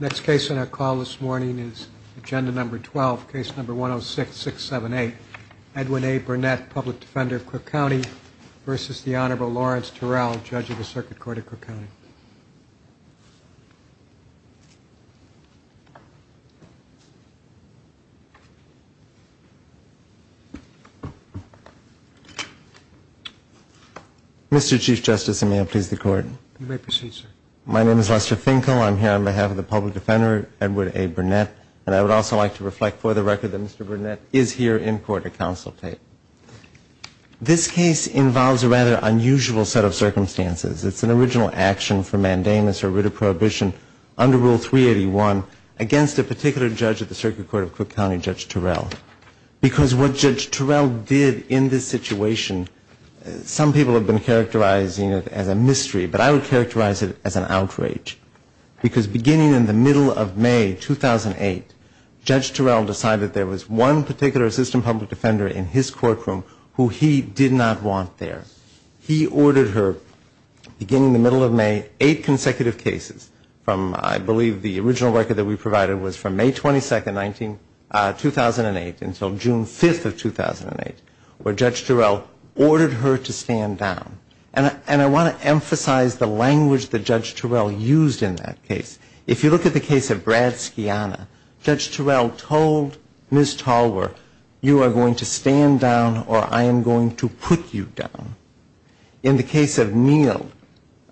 Next case on our call this morning is agenda number 12, case number 106678. Edwin A. Burnett, public defender of Cook County v. the Honorable Lawrence Terrell, judge of the Circuit Court of Cook County. Mr. Chief Justice, and may it please the Court. You may proceed, sir. My name is Lester Finkel. I'm here on behalf of the public defender, Edward A. Burnett, and I would also like to reflect for the record that Mr. Burnett is here in court to consultate. This case involves a rather unusual set of circumstances. It's an original action for mandamus or writ of prohibition under Rule 381 against a particular judge of the Circuit Court of Cook County, Judge Terrell, because what Judge Terrell did in this situation, some people have been characterizing it as a mystery, but I would characterize it as an outrage, because beginning in the middle of May 2008, Judge Terrell decided there was one particular assistant public defender in his courtroom who he did not want there. He ordered her, beginning in the middle of May, eight consecutive cases from, I believe, the original record that we provided was from May 22, 2008 until June 5, 2008, where Judge Terrell ordered her to stand down. And I want to emphasize the language that Judge Terrell used in that case. If you look at the case of Brad Scianna, Judge Terrell told Ms. Tolwer, you are going to stand down or I am going to put you down. In the case of Neal,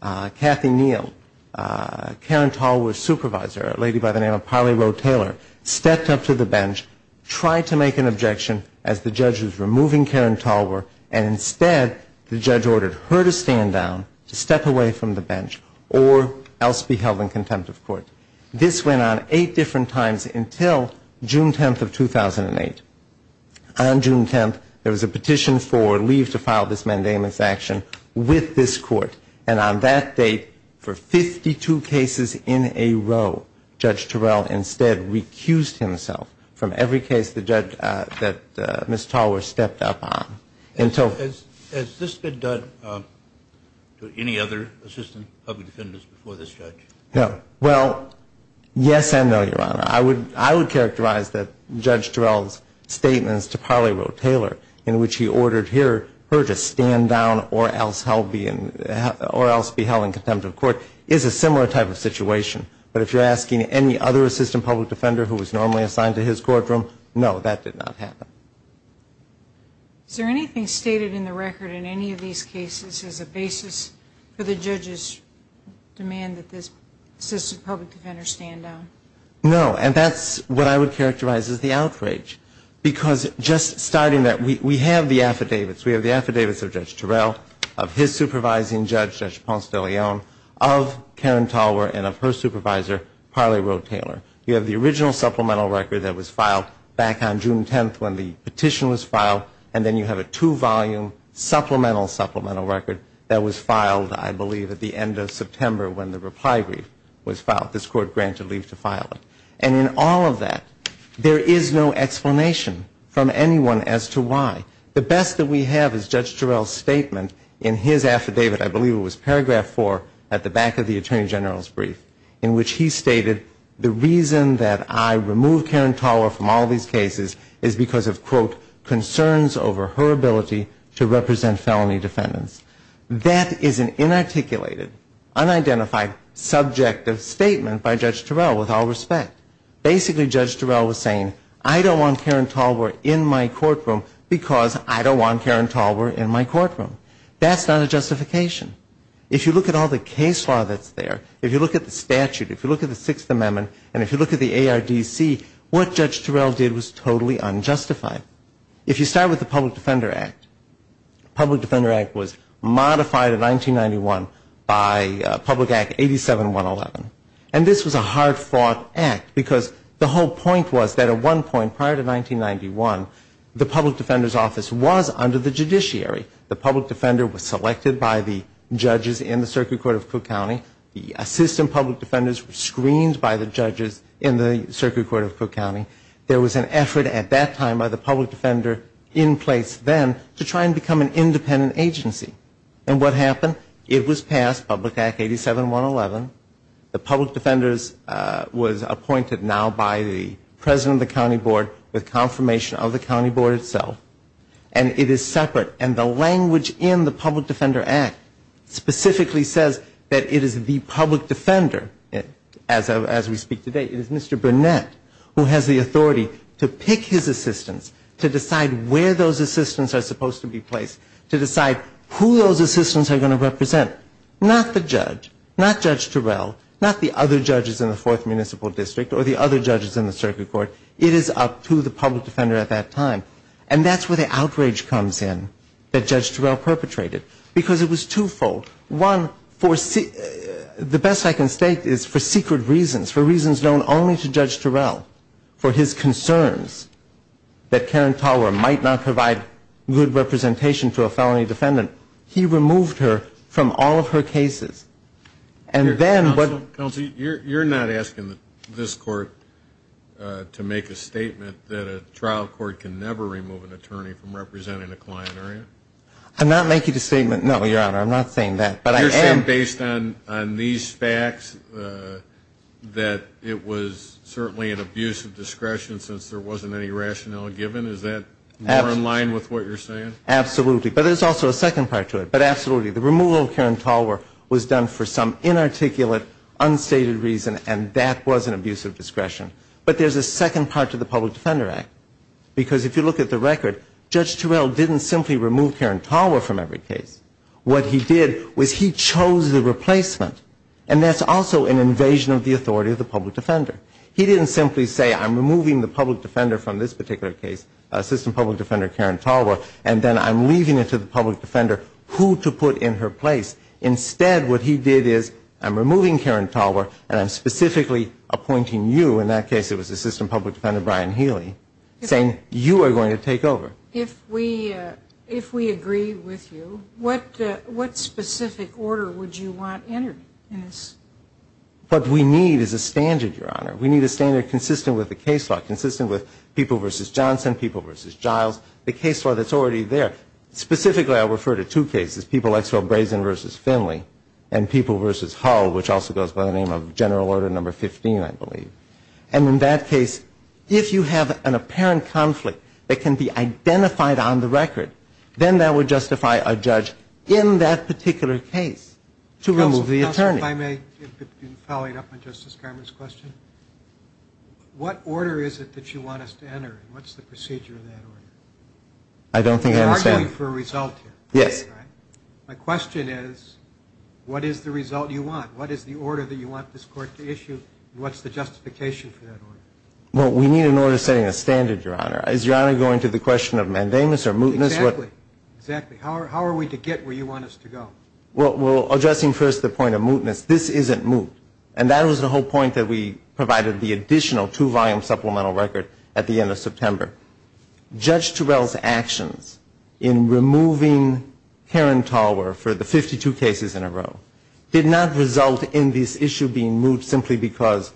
Kathy Neal, Karen Tolwer's supervisor, a lady by the name of Polly Roe Taylor, stepped up to the bench, tried to make an objection as the judge was removing Karen Tolwer, and instead the judge ordered her to stand down, to step away from the bench or else be held in contempt of court. This went on eight different times until June 10th of 2008. On June 10th, there was a petition for leave to file this mandamus action with this court, and on that date for 52 cases in a row, Judge Terrell instead recused himself from every case that Ms. Tolwer stepped up on. Has this been done to any other assistant public defenders before this judge? No. Well, yes and no, Your Honor. I would characterize that Judge Terrell's statements to Polly Roe Taylor, in which he ordered her to stand down or else be held in contempt of court, is a similar type of situation. But if you're asking any other assistant public defender who was normally assigned to his courtroom, no, that did not happen. Is there anything stated in the record in any of these cases as a basis for the judge's demand that this assistant public defender stand down? No, and that's what I would characterize as the outrage, because just starting that, we have the affidavits. We have the affidavits of Judge Terrell, of his supervising judge, Judge Ponce de Leon, of Karen Tolwer, and of her supervisor, Polly Roe Taylor. You have the original supplemental record that was filed back on June 10th when the petition was filed, and then you have a two-volume supplemental supplemental record that was filed, I believe, at the end of September when the reply brief was filed. This Court granted leave to file it. And in all of that, there is no explanation from anyone as to why. The best that we have is Judge Terrell's statement in his affidavit, I believe it was paragraph 4, at the back of the Attorney General's brief, in which he stated, the reason that I remove Karen Tolwer from all these cases is because of, quote, concerns over her ability to represent felony defendants. That is an inarticulated, unidentified, subjective statement by Judge Terrell with all respect. Basically, Judge Terrell was saying, I don't want Karen Tolwer in my courtroom because I don't want Karen Tolwer in my courtroom. That's not a justification. If you look at all the case law that's there, if you look at the statute, if you look at the Sixth Amendment, and if you look at the ARDC, what Judge Terrell did was totally unjustified. If you start with the Public Defender Act, the Public Defender Act was modified in 1991 by Public Act 87111. And this was a hard-fought act because the whole point was that at one point prior to 1991, the Public Defender's Office was under the judiciary. The public defender was selected by the judges in the circuit court of Cook County. The assistant public defenders were screened by the judges in the circuit court of Cook County. There was an effort at that time by the public defender in place then to try and become an independent agency. And what happened? It was passed, Public Act 87111. The public defender was appointed now by the president of the county board with confirmation of the county board itself. And it is separate. And the language in the Public Defender Act specifically says that it is the public defender, as we speak today, it is Mr. Burnett who has the authority to pick his assistants, to decide where those assistants are supposed to be placed, to decide who those assistants are going to represent. Not the judge, not Judge Terrell, not the other judges in the Fourth Municipal District or the other judges in the circuit court. It is up to the public defender at that time. And that's where the outrage comes in that Judge Terrell perpetrated. Because it was twofold. One, the best I can state is for secret reasons, for reasons known only to Judge Terrell, for his concerns that Karen Tauer might not provide good representation to a felony defendant, he removed her from all of her cases. Counsel, you're not asking this court to make a statement that a trial court can never remove an attorney from representing a client, are you? I'm not making a statement, no, Your Honor. I'm not saying that. You're saying based on these facts that it was certainly an abuse of discretion since there wasn't any rationale given? Is that more in line with what you're saying? Absolutely. But there's also a second part to it. But absolutely, the removal of Karen Tauer was done for some inarticulate, unstated reason, and that was an abuse of discretion. But there's a second part to the Public Defender Act. Because if you look at the record, Judge Terrell didn't simply remove Karen Tauer from every case. What he did was he chose the replacement. And that's also an invasion of the authority of the public defender. He didn't simply say, I'm removing the public defender from this particular case, Assistant Public Defender Karen Tauer, and then I'm leaving it to the public defender who to put in her place. Instead, what he did is I'm removing Karen Tauer and I'm specifically appointing you, in that case it was Assistant Public Defender Brian Healy, saying you are going to take over. If we agree with you, what specific order would you want entered in this? What we need is a standard, Your Honor. We need a standard consistent with the case law, consistent with people versus Johnson, people versus Giles, the case law that's already there. Specifically, I'll refer to two cases, People XO Brazen versus Finley, and People versus Hull, which also goes by the name of General Order No. 15, I believe. And in that case, if you have an apparent conflict that can be identified on the record, then that would justify a judge in that particular case to remove the attorney. Counsel, if I may, in following up on Justice Garment's question, what order is it that you want us to enter? What's the procedure of that order? I don't think I understand. You're arguing for a result here. Yes. My question is what is the result you want? What is the order that you want this Court to issue? What's the justification for that order? Well, we need an order setting a standard, Your Honor. Is Your Honor going to the question of mandamus or mootness? Exactly. Exactly. How are we to get where you want us to go? Well, addressing first the point of mootness, this isn't moot. And that was the whole point that we provided the additional two-volume supplemental record at the end of September. Judge Terrell's actions in removing Karen Tallwer for the 52 cases in a row did not result in this issue being moot simply because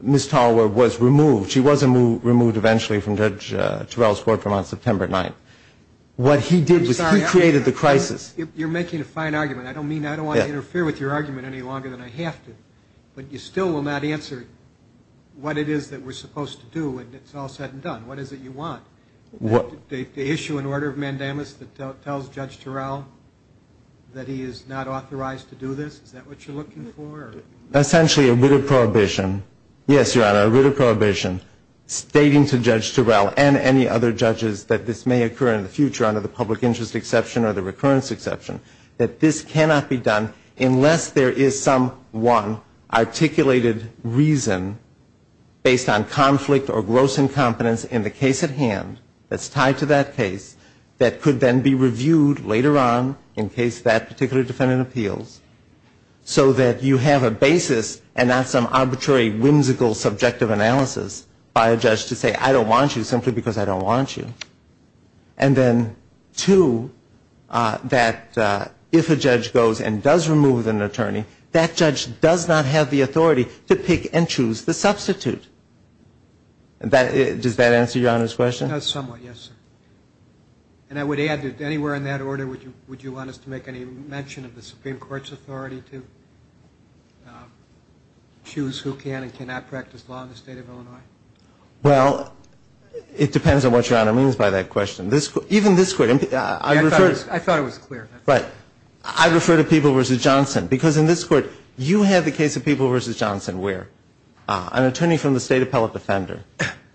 Ms. Tallwer was removed. She wasn't removed eventually from Judge Terrell's courtroom on September 9th. What he did was he created the crisis. I'm sorry. You're making a fine argument. I don't mean I don't want to interfere with your argument any longer than I have to, but you still will not answer what it is that we're supposed to do and it's all said and done. What is it you want? To issue an order of mandamus that tells Judge Terrell that he is not authorized to do this? Is that what you're looking for? Essentially a writ of prohibition. Yes, Your Honor, a writ of prohibition stating to Judge Terrell and any other judges that this may occur in the future under the public interest exception or the recurrence exception that this cannot be done unless there is some one articulated reason based on conflict or gross incompetence in the case at hand that's tied to that case that could then be reviewed later on in case that particular defendant appeals so that you have a basis and not some arbitrary whimsical subjective analysis by a judge to say I don't want you simply because I don't want you. And then two, that if a judge goes and does remove an attorney, that judge does not have the authority to pick and choose the substitute. Does that answer Your Honor's question? It does somewhat, yes. And I would add that anywhere in that order would you want us to make any mention of the Supreme Court's authority to choose who can and cannot practice law in the State of Illinois? Well, it depends on what Your Honor means by that question. Even this Court. I thought it was clear. Right. I refer to People v. Johnson because in this Court you had the case of People v. Johnson where an attorney from the State Appellate Defender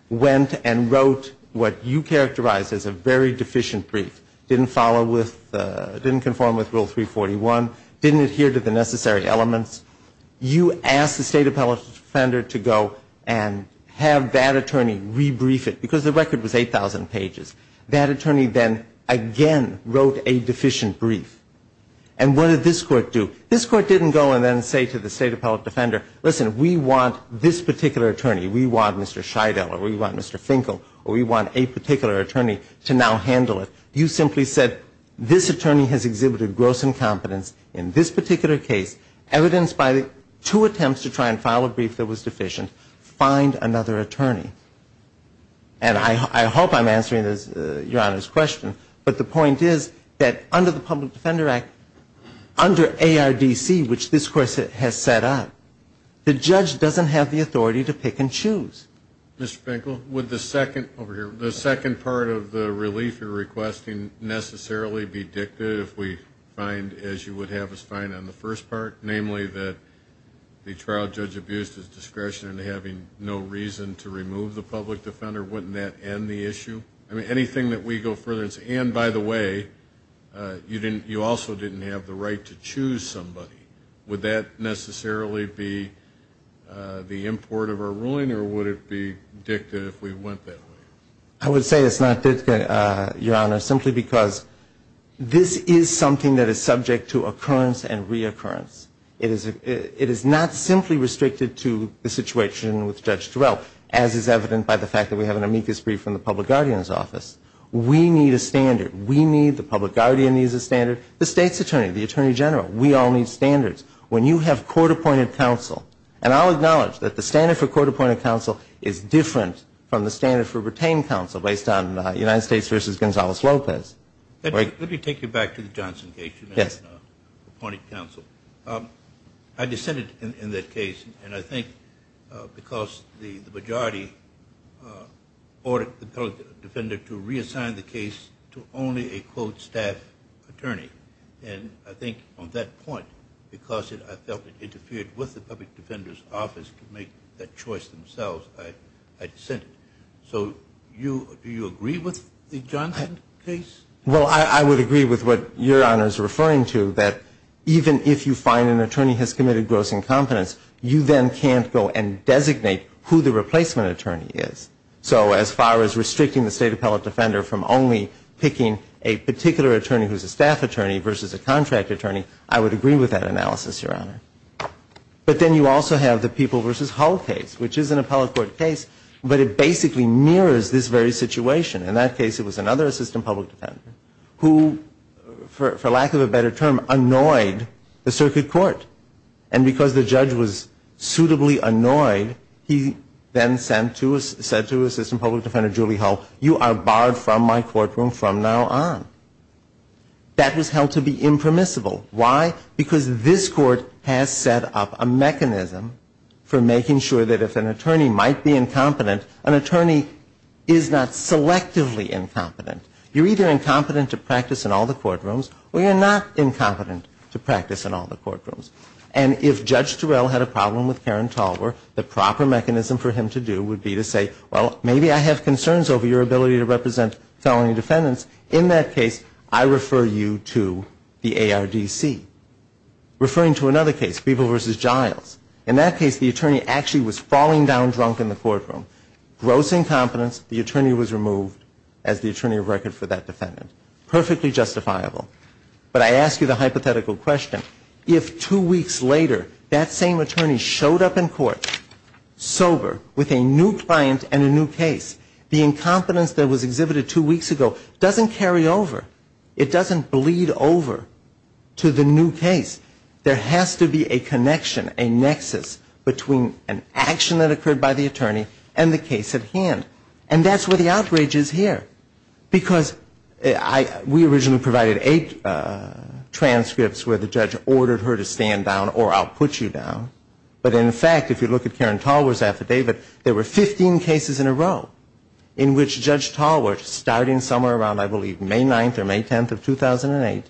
went and wrote what you characterized as a very deficient brief, didn't follow with, didn't conform with Rule 341, didn't adhere to the necessary elements. You asked the State Appellate Defender to go and have that attorney rebrief it because the record was 8,000 pages. That attorney then again wrote a deficient brief. And what did this Court do? This Court didn't go and then say to the State Appellate Defender, listen, we want this particular attorney, we want Mr. Scheidel or we want Mr. Finkel or we want a particular attorney to now handle it. You simply said this attorney has exhibited gross incompetence in this particular case, evidenced by two attempts to try and file a brief that was deficient. Find another attorney. And I hope I'm answering Your Honor's question, but the point is that under the Public Defender Act, under ARDC, which this Court has set up, the judge doesn't have the authority to pick and choose. Mr. Finkel, would the second part of the relief you're requesting necessarily be dictated if we find, as you would have us find on the first part, namely, that the trial judge abused his discretion in having no reason to remove the public defender? Wouldn't that end the issue? Anything that we go further and say, and by the way, you also didn't have the right to choose somebody. Would that necessarily be the import of our ruling or would it be dictated if we went that way? I would say it's not dictated, Your Honor, simply because this is something that is subject to occurrence and reoccurrence. It is not simply restricted to the situation with Judge Turrell, as is evident by the fact that we have an amicus brief from the public guardian's office. We need a standard. We need the public guardian needs a standard, the state's attorney, the attorney general. We all need standards. When you have court-appointed counsel, and I'll acknowledge that the standard for court-appointed counsel is different from the standard for retained counsel based on United States v. Gonzalez-Lopez. Let me take you back to the Johnson case. Yes. Appointed counsel. I dissented in that case, and I think because the majority ordered the public defender to reassign the case to only a, quote, staff attorney. And I think on that point, because I felt it interfered with the public defender's office to make that choice themselves, I dissented. So do you agree with the Johnson case? Well, I would agree with what Your Honor is referring to, that even if you find an attorney has committed gross incompetence, you then can't go and designate who the replacement attorney is. So as far as restricting the state appellate defender from only picking a particular attorney who's a staff attorney versus a contract attorney, I would agree with that analysis, Your Honor. But then you also have the People v. Hull case, which is an appellate court case, but it basically mirrors this very situation. In that case, it was another assistant public defender who, for lack of a better term, annoyed the circuit court. And because the judge was suitably annoyed, he then said to assistant public defender Julie Hull, you are barred from my courtroom from now on. That was held to be impermissible. Why? Because this court has set up a mechanism for making sure that if an attorney might be incompetent, an attorney is not selectively incompetent. You're either incompetent to practice in all the courtrooms, or you're not incompetent to practice in all the courtrooms. And if Judge Terrell had a problem with Karen Talwar, the proper mechanism for him to do would be to say, well, maybe I have concerns over your ability to represent felony defendants. In that case, I refer you to the ARDC. Referring to another case, People v. Giles. In that case, the attorney actually was falling down drunk in the courtroom. Gross incompetence. The attorney was removed as the attorney of record for that defendant. Perfectly justifiable. But I ask you the hypothetical question. If two weeks later that same attorney showed up in court sober with a new client and a new case, the incompetence that was exhibited two weeks ago doesn't carry over. It doesn't bleed over to the new case. There has to be a connection, a nexus, between an action that occurred by the attorney and the case at hand. And that's where the outrage is here. Because we originally provided eight transcripts where the judge ordered her to stand down or I'll put you down. But in fact, if you look at Karen Talwar's affidavit, there were 15 cases in a row in which Judge Talwar, starting somewhere around I believe May 9th or May 10th of 2008,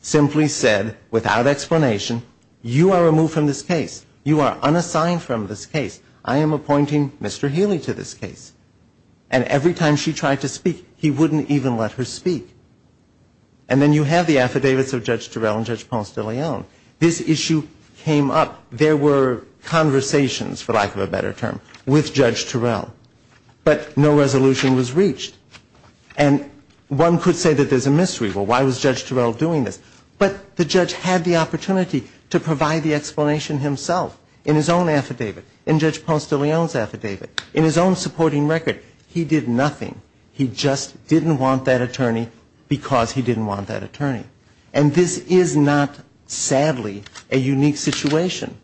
simply said without explanation, you are removed from this case. You are unassigned from this case. I am appointing Mr. Healy to this case. And every time she tried to speak, he wouldn't even let her speak. And then you have the affidavits of Judge Turrell and Judge Ponce de Leon. This issue came up. There were conversations, for lack of a better term, with Judge Turrell. But no resolution was reached. And one could say that there's a mystery. Well, why was Judge Turrell doing this? But the judge had the opportunity to provide the explanation himself in his own affidavit, in Judge Ponce de Leon's affidavit, in his own supporting record. He did nothing. He just didn't want that attorney because he didn't want that attorney. And this is not, sadly, a unique situation.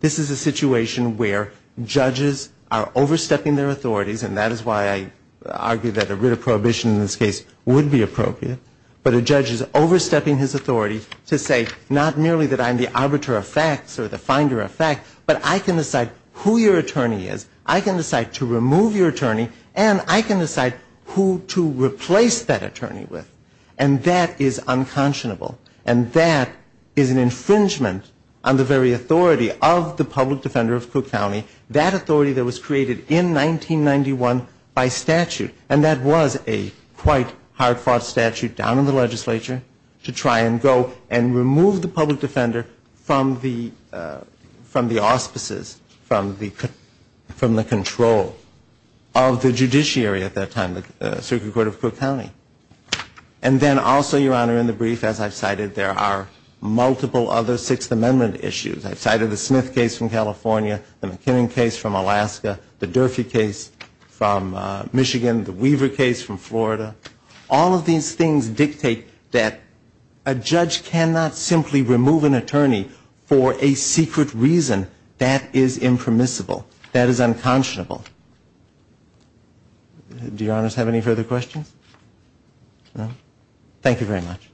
This is a situation where judges are overstepping their authorities, and that is why I argue that a writ of prohibition in this case would be appropriate, but a judge is overstepping his authority to say not merely that I'm the arbiter of facts or the finder of facts, but I can decide who your attorney is, I can decide to remove your attorney, and I can decide who to replace that attorney with. And that is unconscionable. And that is an infringement on the very authority of the public defender of Cook County, that authority that was created in 1991 by statute. And that was a quite hard-fought statute down in the legislature to try and go and remove the public defender from the auspices, from the control of the judiciary at that time, the Circuit Court of Cook County. And then also, Your Honor, in the brief, as I've cited, there are multiple other Sixth Amendment issues. I've cited the Smith case from California, the McKinnon case from Alaska, the Durfee case from Michigan, the Weaver case from Florida. All of these things dictate that a judge cannot simply remove an attorney for a secret reason. That is impermissible. That is unconscionable. Do Your Honors have any further questions? No? Thank you very much.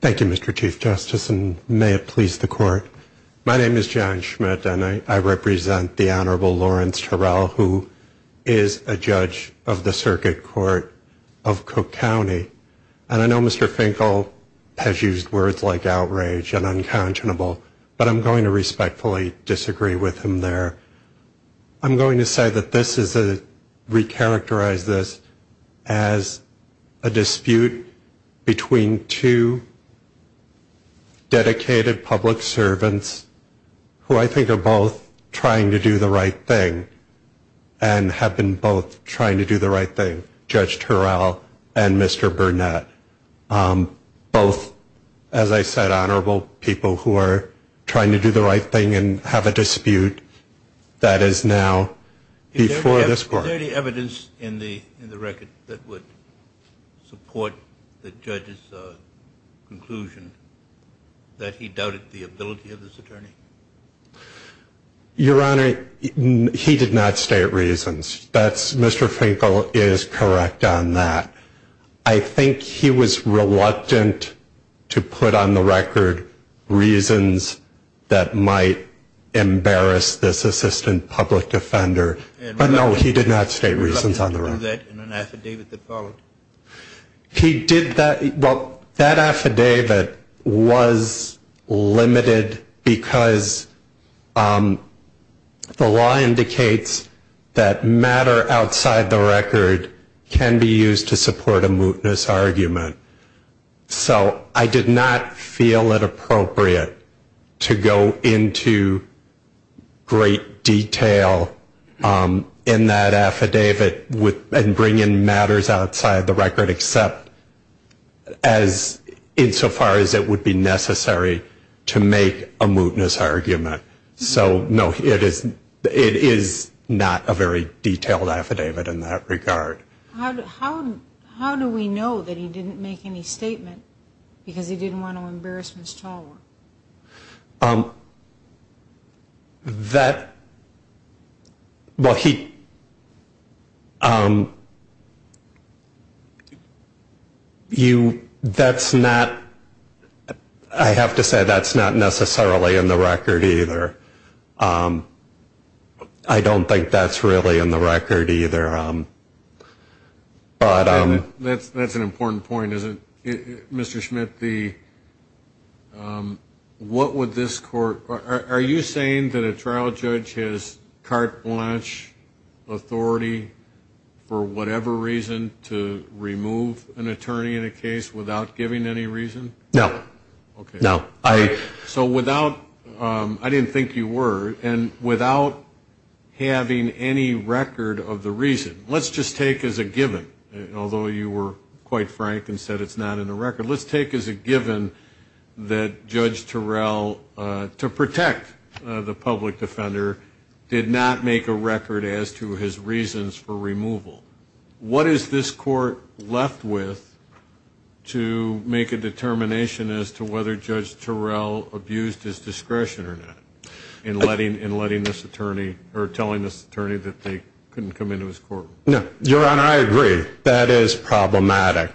Thank you, Mr. Chief Justice, and may it please the Court. My name is John Schmidt, and I represent the Honorable Lawrence Terrell, who is a judge of the Circuit Court of Cook County. And I know Mr. Finkel has used words like outrage and unconscionable, but I'm going to respectfully disagree with him there. I'm going to say that this is to recharacterize this as a dispute between two dedicated public servants who I think are both trying to do the right thing and have been both trying to do the right thing, Judge Terrell and Mr. Burnett, both, as I said, who are trying to do the right thing and have a dispute that is now before this Court. Is there any evidence in the record that would support the judge's conclusion that he doubted the ability of this attorney? Your Honor, he did not state reasons. Mr. Finkel is correct on that. I think he was reluctant to put on the record reasons that might embarrass this assistant public defender. But no, he did not state reasons on the record. Was that in an affidavit that followed? He did that. Well, that affidavit was limited because the law indicates that matter outside the record can be used to support a mootness argument, so I did not feel it appropriate to go into great detail in that affidavit and bring in matters outside the record except insofar as it would be necessary to make a mootness argument. So, no, it is not a very detailed affidavit in that regard. How do we know that he didn't make any statement because he didn't want to embarrass Ms. Talwar? That, well, he, you, that's not, I have to say that's not necessarily in the record either. I don't think that's really in the record either. That's an important point, isn't it? Mr. Schmidt, what would this court, are you saying that a trial judge has carte blanche authority for whatever reason to remove an attorney in a case without giving any reason? No. Okay. No. So without, I didn't think you were, and without having any record of the reason, let's just take as a given, although you were quite frank and said it's not in the record, let's take as a given that Judge Turrell, to protect the public defender, did not make a record as to his reasons for removal. What is this court left with to make a determination as to whether Judge Turrell abused his discretion or not in letting, in letting this attorney, or telling this attorney that they couldn't come into his court? No. Your Honor, I agree. That is problematic.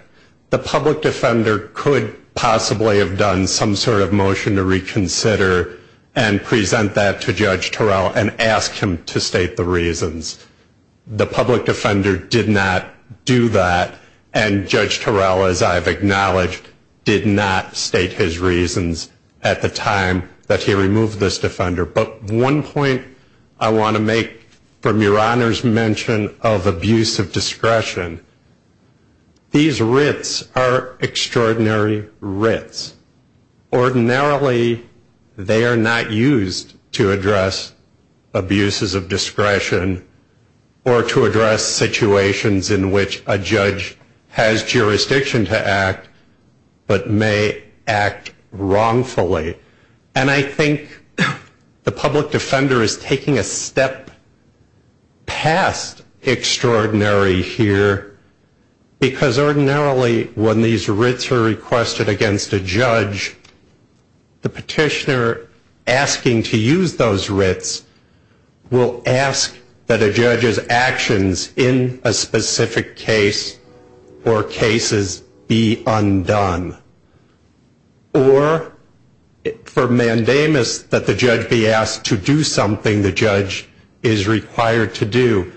The public defender could possibly have done some sort of motion to reconsider and present that to Judge Turrell and ask him to do that. And Judge Turrell, as I've acknowledged, did not state his reasons at the time that he removed this defender. But one point I want to make from Your Honor's mention of abuse of discretion, these writs are extraordinary writs. Ordinarily, they are not used to address abuses of discretion or to address situations where the defendant is not able to act, but may act wrongfully. And I think the public defender is taking a step past extraordinary here, because ordinarily, when these writs are requested against a judge, the petitioner asking to use those writs will ask that a judge's actions in association with the specific case or cases be undone. Or for mandamus, that the judge be asked to do something the judge is required to do.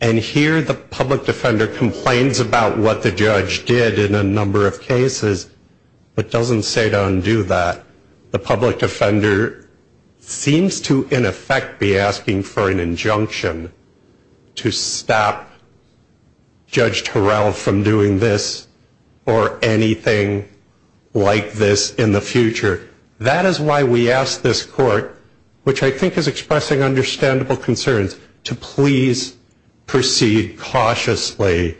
And here, the public defender complains about what the judge did in a number of cases, but doesn't say to undo that. The public defender seems to, in effect, be asking for an injunction to stop the defendant from using those writs. And that is why we ask this court, which I think is expressing understandable concerns, to please proceed cautiously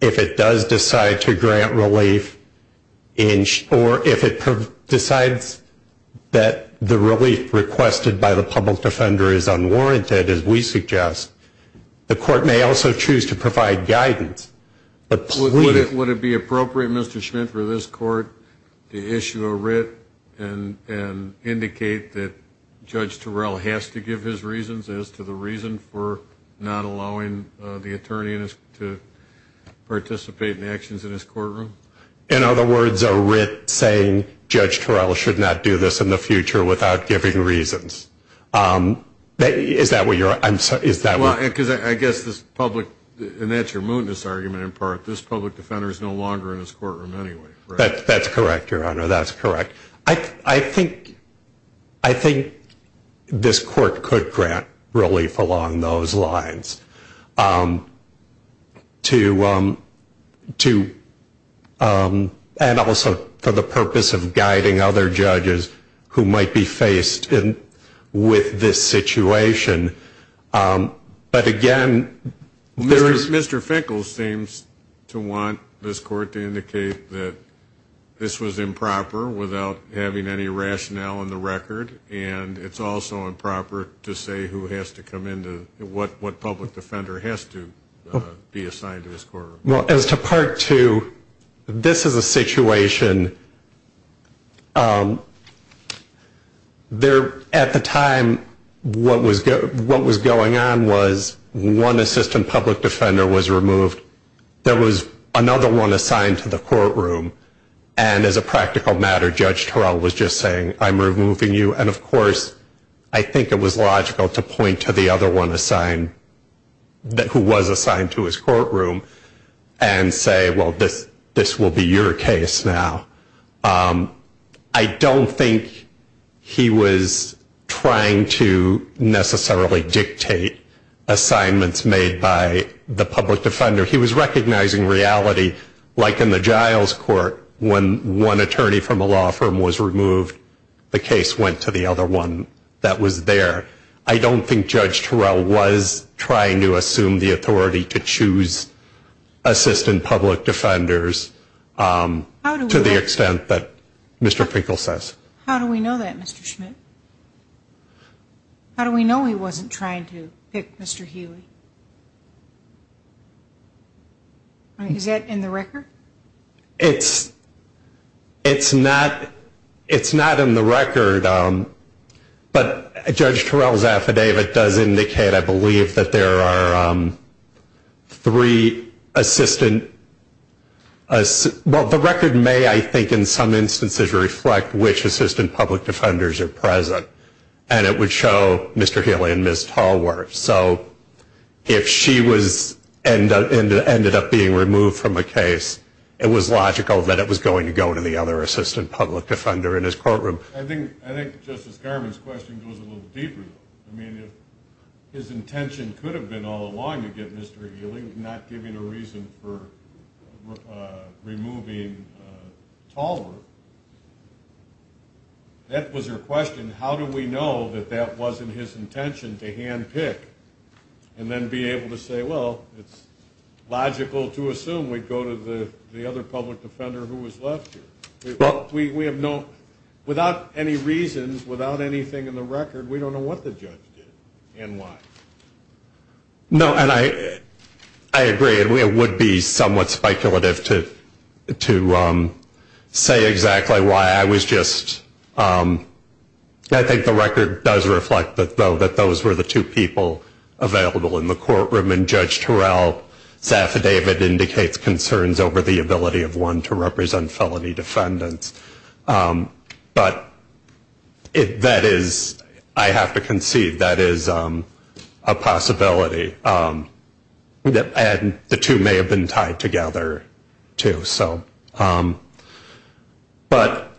if it does decide to grant relief, or if it decides that the relief requested by the public defender is unwarranted, as we suggest. The court may also choose to provide guidance, but please... Would it be appropriate, Mr. Schmidt, for this court to issue a writ and indicate that Judge Torell has to give his reasons as to the reason for not allowing the attorney to participate in actions in his courtroom? In other words, a writ saying Judge Torell should not do this in the future without giving reasons. Is that what you're... Well, because I guess this public, and that's your mootness argument in part, this public defender is no longer in his courtroom anyway. That's correct, Your Honor, that's correct. I think this court could grant relief along those lines. And also for the purpose of guiding other judges who might be faced with this situation. But again, there is... Mr. Finkel seems to want this court to indicate that this was improper without having any rationale in the record, and it's also improper to say who has to come in, what public defender has to be assigned to this courtroom. Well, as to Part 2, this is a situation... At the time, what was going on was one assistant public defender was removed. There was another one assigned to the courtroom, and as a practical matter, Judge Torell was just saying, I'm removing you. And of course, I think it was logical to point to the other one assigned, who was assigned to his courtroom, and say, well, this will be your case now. I don't think he was trying to necessarily dictate assignments made by the public defender. He was recognizing reality, like in the Giles Court, when one attorney from a law firm was removed, the case went to them. And the other one that was there. I don't think Judge Torell was trying to assume the authority to choose assistant public defenders, to the extent that Mr. Finkel says. How do we know that, Mr. Schmidt? How do we know he wasn't trying to pick Mr. Healy? Is that in the record? It's not in the record. But Judge Torell's affidavit does indicate, I believe, that there are three assistant... Well, the record may, I think, in some instances, reflect which assistant public defenders are present. And it would show Mr. Healy and Ms. Tallworth. So if she ended up being removed from a case, it was logical that it was going to go to the other assistant public defender in his courtroom. I think Justice Garmon's question goes a little deeper, though. I mean, if his intention could have been all along to get Mr. Healy, not giving a reason for removing Tallworth, that was her question. How do we know that that wasn't his intention to handpick and then be able to say, well, it's logical to assume we'd go to the other public defender who was left here? Without any reasons, without anything in the record, we don't know what the judge did and why. No, and I agree. It would be somewhat speculative to say exactly why I was just... I think the record does reflect, though, that those were the two people available in the courtroom. And Judge Torell's affidavit indicates concerns over the ability of one to represent felony defendants. But that is, I have to concede, that is a possibility. And the two may have been tied together, too. But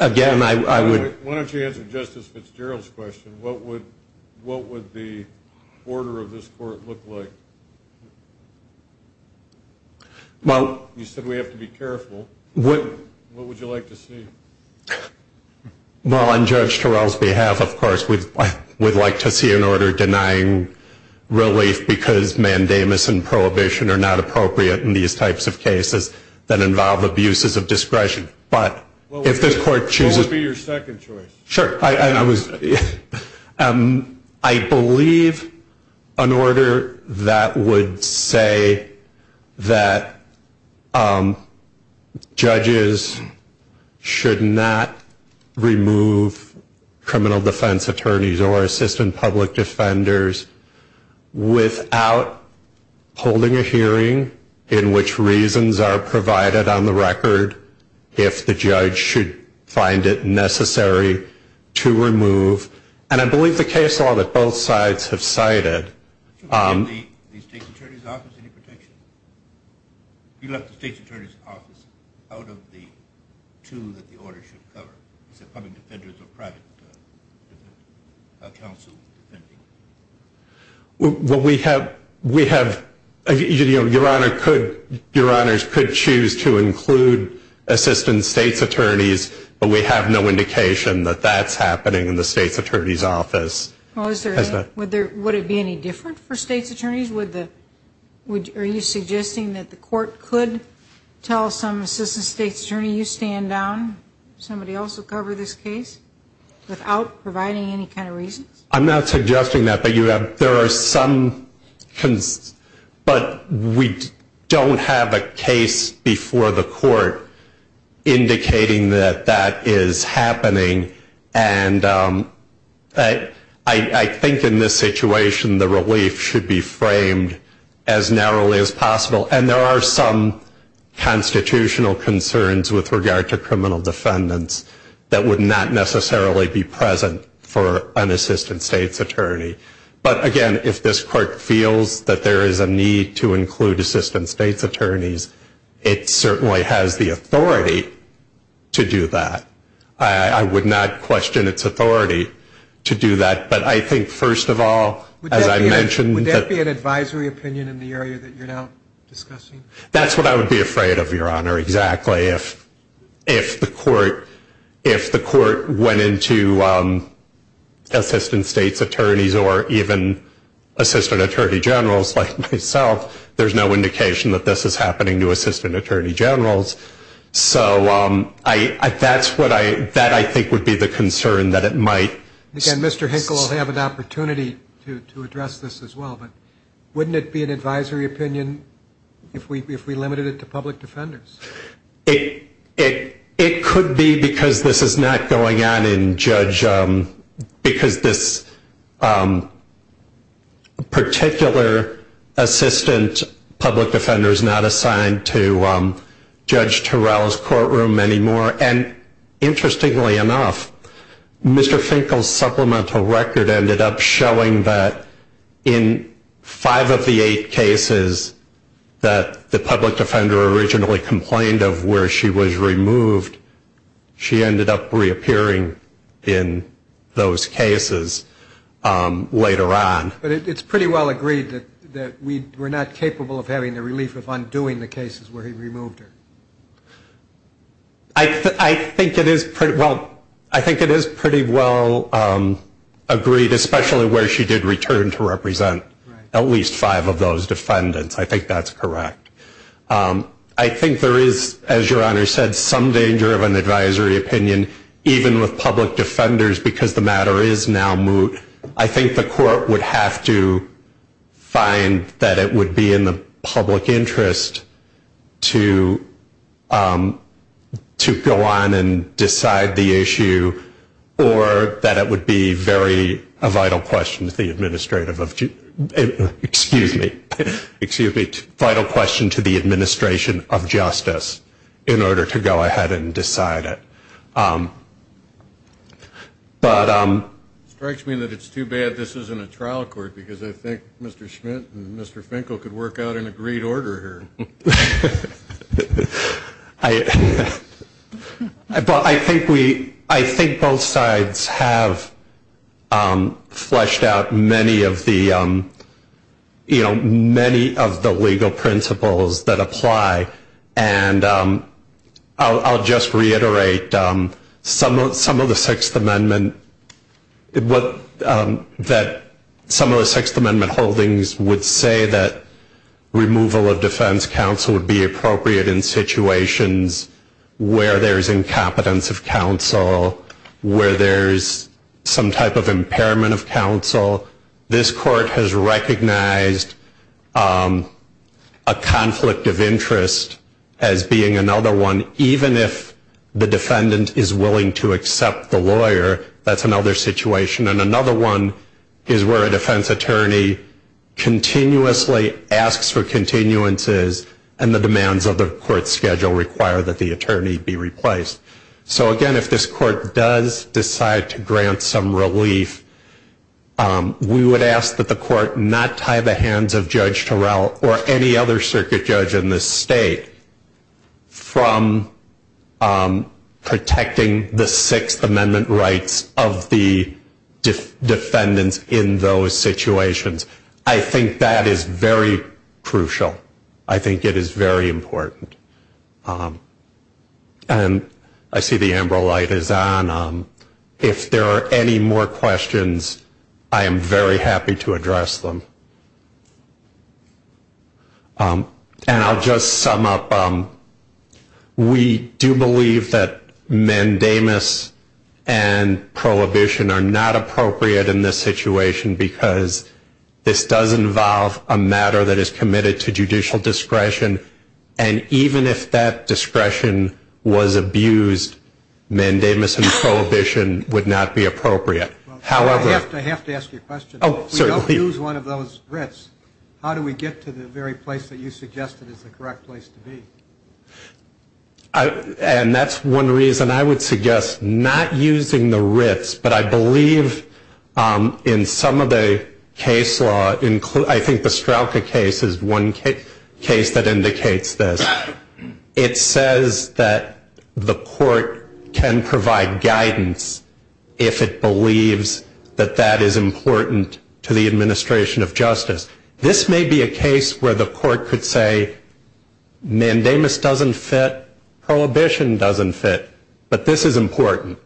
again, I would... Why don't you answer Justice Fitzgerald's question? What would the order of this court look like? You said we have to be careful. What would you like to see? Well, on Judge Torell's behalf, of course, we'd like to see an order denying relief because mandamus and prohibition are not appropriate in these types of cases that involve abuses of discretion. But if this court chooses... I would say that judges should not remove criminal defense attorneys or assistant public defenders without holding a hearing in which reasons are provided on the record if the judge should find it necessary to remove... And I believe the case law that both sides have cited... You left the state's attorney's office out of the two that the order should cover, the public defenders or private counsel defending. Well, we have... Your Honor could choose to include assistant state's attorneys, but we have no indication that that's happening in the state's attorney's office. Would it be any different for state's attorneys? Are you suggesting that the court could tell some assistant state's attorney, you stand down, somebody else will cover this case without providing any kind of reasons? I'm not suggesting that, but there are some... But we don't have a case before the court indicating that that is happening, and I think in this situation the relief should be framed as narrowly as possible. And there are some constitutional concerns with regard to criminal defendants that would not necessarily be present for an assistant state's attorney. But again, if this court feels that there is a need to include assistant state's attorneys, it certainly has the authority to do that. I would not question its authority to do that, but I think first of all, as I mentioned... Would that be an advisory opinion in the area that you're now discussing? That's what I would be afraid of, Your Honor, exactly. If the court went into assistant state's attorneys or even assistant attorney generals like myself, there's no indication that this is happening to assistant attorney generals. So that, I think, would be the concern that it might... Again, Mr. Hinkle will have an opportunity to address this as well, but wouldn't it be an advisory opinion if we limited it to public defenders? It could be because this is not going on in Judge... Because this particular assistant public defender is not assigned to Judge Turrell's courtroom anymore. And interestingly enough, Mr. Hinkle's supplemental record ended up showing that in five of the eight cases that the public defender originally complained of where she was removed, she ended up reappearing in those cases later on. But it's pretty well agreed that we're not capable of having the relief of undoing the cases where he removed her. I think it is pretty well agreed, especially where she did return to represent at least five of those defendants. I think that's correct. I think there is, as Your Honor said, some danger of an advisory opinion, even with public defenders, because the matter is now moot. I think the court would have to find that it would be in the public interest to go on and decide the issue, or that it would be a vital question to the administration of justice in order to go ahead and decide it. It strikes me that it's too bad this isn't a trial court, because I think Mr. Schmidt and Mr. Finkel could work out an agreed order here. I think both sides have fleshed out many of the legal principles that apply. I'll just reiterate that some of the Sixth Amendment holdings would say that removal of defense counsel would be appropriate in situations where there's incompetence of counsel, where there's some type of impairment of counsel. This court has recognized a conflict of interest as being another one, even if the defendant is willing to accept the lawyer. That's another situation, and another one is where a defense attorney continuously asks for continuances, and the demands of the court schedule require that the attorney be replaced. So again, if this court does decide to grant some relief, we would ask that the court not tie the hands of Judge Terrell or any other circuit judge in this state from protecting the Sixth Amendment rights of the defendants in those situations. I think that is very crucial. I think it is very important. And I see the amber light is on. If there are any more questions, I am very happy to address them. And I'll just sum up. We do believe that mandamus and prohibition are not appropriate in this situation, because this does involve a matter that is committed to judicial discretion. And even if that discretion was abused, mandamus and prohibition would not be appropriate. I have to ask you a question. If we don't use one of those writs, how do we get to the very place that you suggested is the correct place to be? And that's one reason I would suggest not using the writs. But I believe in some of the case law, I think the Strauka case is one case that indicates this. It says that the court can provide guidance if it believes that that is important to the case. It can provide guidance to the administration of justice. This may be a case where the court could say mandamus doesn't fit, prohibition doesn't fit. But this is important.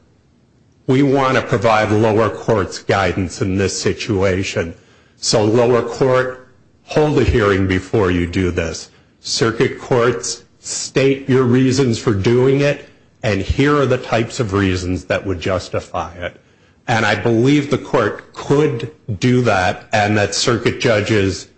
We want to provide lower court's guidance in this situation. So lower court, hold the hearing before you do this. Circuit courts, state your reasons for doing it, and here are the types of reasons that would justify it. And I believe the court could do that, and that circuit judges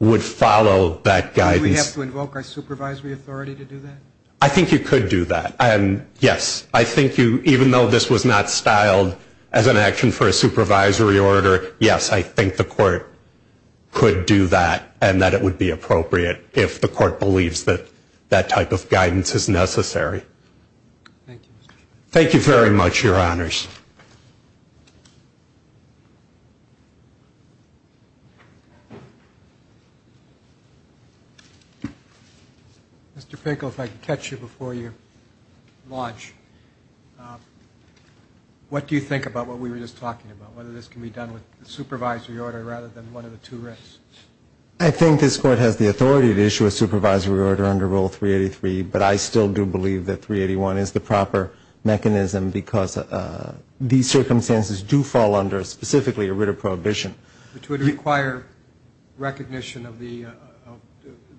would follow that guidance. Do we have to invoke our supervisory authority to do that? I think you could do that, and yes, I think you, even though this was not styled as an action for a supervisory order, yes, I think the court could do that, and that it would be appropriate if the court believes that that type of guidance is necessary. Thank you very much, Your Honors. Mr. Finkle, if I could catch you before you launch. What do you think about what we were just talking about, whether this can be done with a supervisory order rather than one of the two risks? I think this court has the authority to issue a supervisory order under Rule 383, but I still do believe that 381 is the proper mechanism, because these circumstances do fall under specifically a writ of prohibition. Which would require recognition of the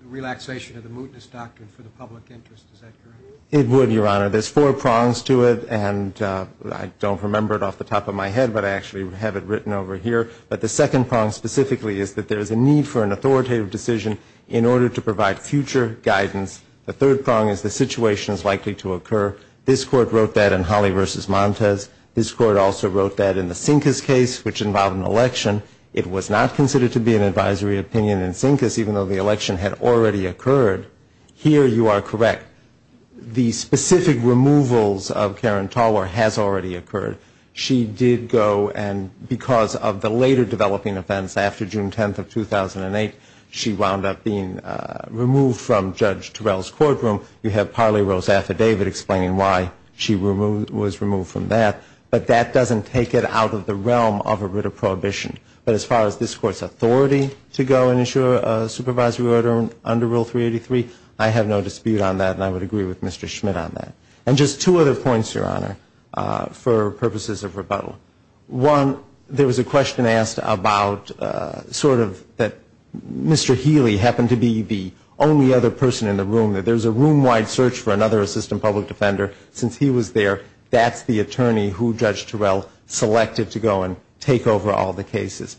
relaxation of the mootness doctrine for the public interest. Is that correct? It would, Your Honor. There's four prongs to it, and I don't remember it off the top of my head, but I actually have it written over here. But the second prong specifically is that there is a need for an authoritative decision in order to provide future guidance. The third prong is the situation is likely to occur. This court wrote that in Holley v. Montes. This court also wrote that in the Sinkes case, which involved an election. It was not considered to be an advisory opinion in Sinkes, even though the election had already occurred. Here you are correct. The specific removals of Karen Talwar has already occurred. She did go, and because of the later developing offense after June 10th of 2008, she wound up being removed from Judge Terrell's courtroom. You have Parley-Rose Affidavit explaining why she was removed from that. But that doesn't take it out of the realm of a writ of prohibition. But as far as this Court's authority to go and issue a supervisory order under Rule 383, I have no dispute on that, and I would agree with Mr. Schmidt on that. And just two other points, Your Honor, for purposes of rebuttal. One, there was a question asked about sort of that Mr. Healy happened to be the only other person in the room, that there's a room-wide search for another assistant public defender. Since he was there, that's the attorney who Judge Terrell selected to go and take over all the cases.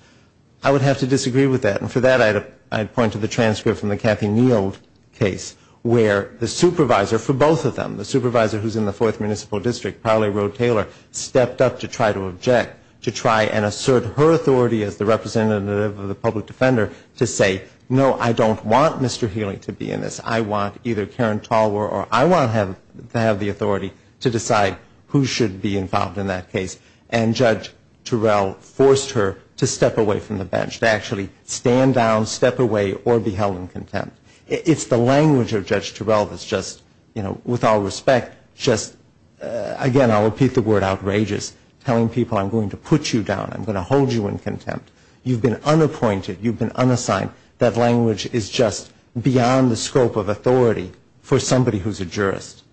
I would have to disagree with that, and for that I'd point to the transcript from the Kathy Neal case, where the supervisor for both of them, the supervisor who's in the 4th Municipal District, Parley-Rose Taylor, stepped up to try to object, to try and assert her authority as the representative of the public defender to say, no, I don't want Mr. Healy to be in this. I want either Karen Talwar or I want to have the authority to decide who should be involved in that case. And Judge Terrell forced her to step away from the bench, to actually stand down, step away, or be held in contempt. It's the language of Judge Terrell that's just, you know, with all respect, just, again, I'll repeat the word outrageous, telling people I'm going to put you down, I'm going to hold you in contempt. You've been unappointed, you've been unassigned. That language is just beyond the scope of authority for somebody who's a jurist.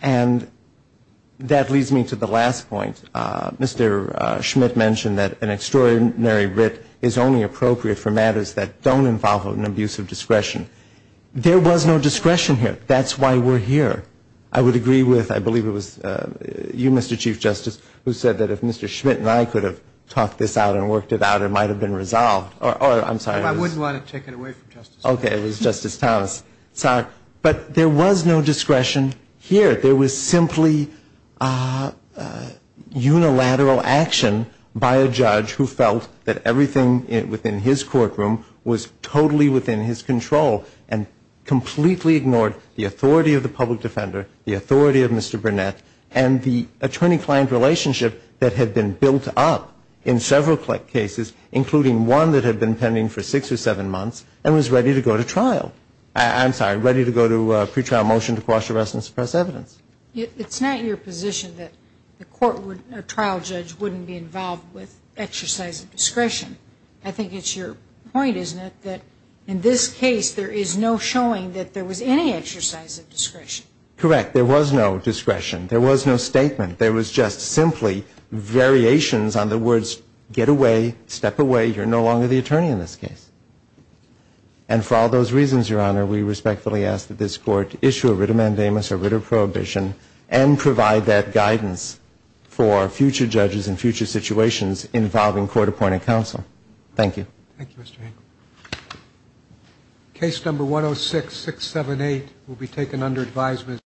And that leads me to the last point. Mr. Schmidt mentioned that an extraordinary writ is only appropriate for matters that don't involve an abuse of discretion. There was no discretion here. That's why we're here. I would agree with, I believe it was you, Mr. Chief Justice, who said that if Mr. Schmidt and I could have talked this out and worked it out, it might have been resolved. Or, I'm sorry. If I wouldn't want to take it away from Justice Thomas. Okay. It was Justice Thomas. Sorry. But there was no discretion here. There was simply unilateral action by a judge who felt that everything within his courtroom was totally within his control and completely ignored the authority of the public defender, the authority of Mr. Burnett, and the attorney-client relationship that had been built up in several cases, including one that had been pending for six or seven months, and was ready to go to trial. I'm sorry, ready to go to a pretrial motion to quash arrest and suppress evidence. It's not your position that a trial judge wouldn't be involved with exercise of discretion. I think it's your point, isn't it, that in this case there is no showing that there was any exercise of discretion. Correct. There was no discretion. There was no statement. There was just simply variations on the words, get away, step away, you're no longer the attorney in this case. And for all those reasons, Your Honor, we respectfully ask that this Court issue a writ of mandamus, a writ of prohibition, and provide that guidance for future judges in future situations involving court-appointed counsel. Thank you. Thank you, Mr. Hankel. Case number 106678 will be taken under advisement.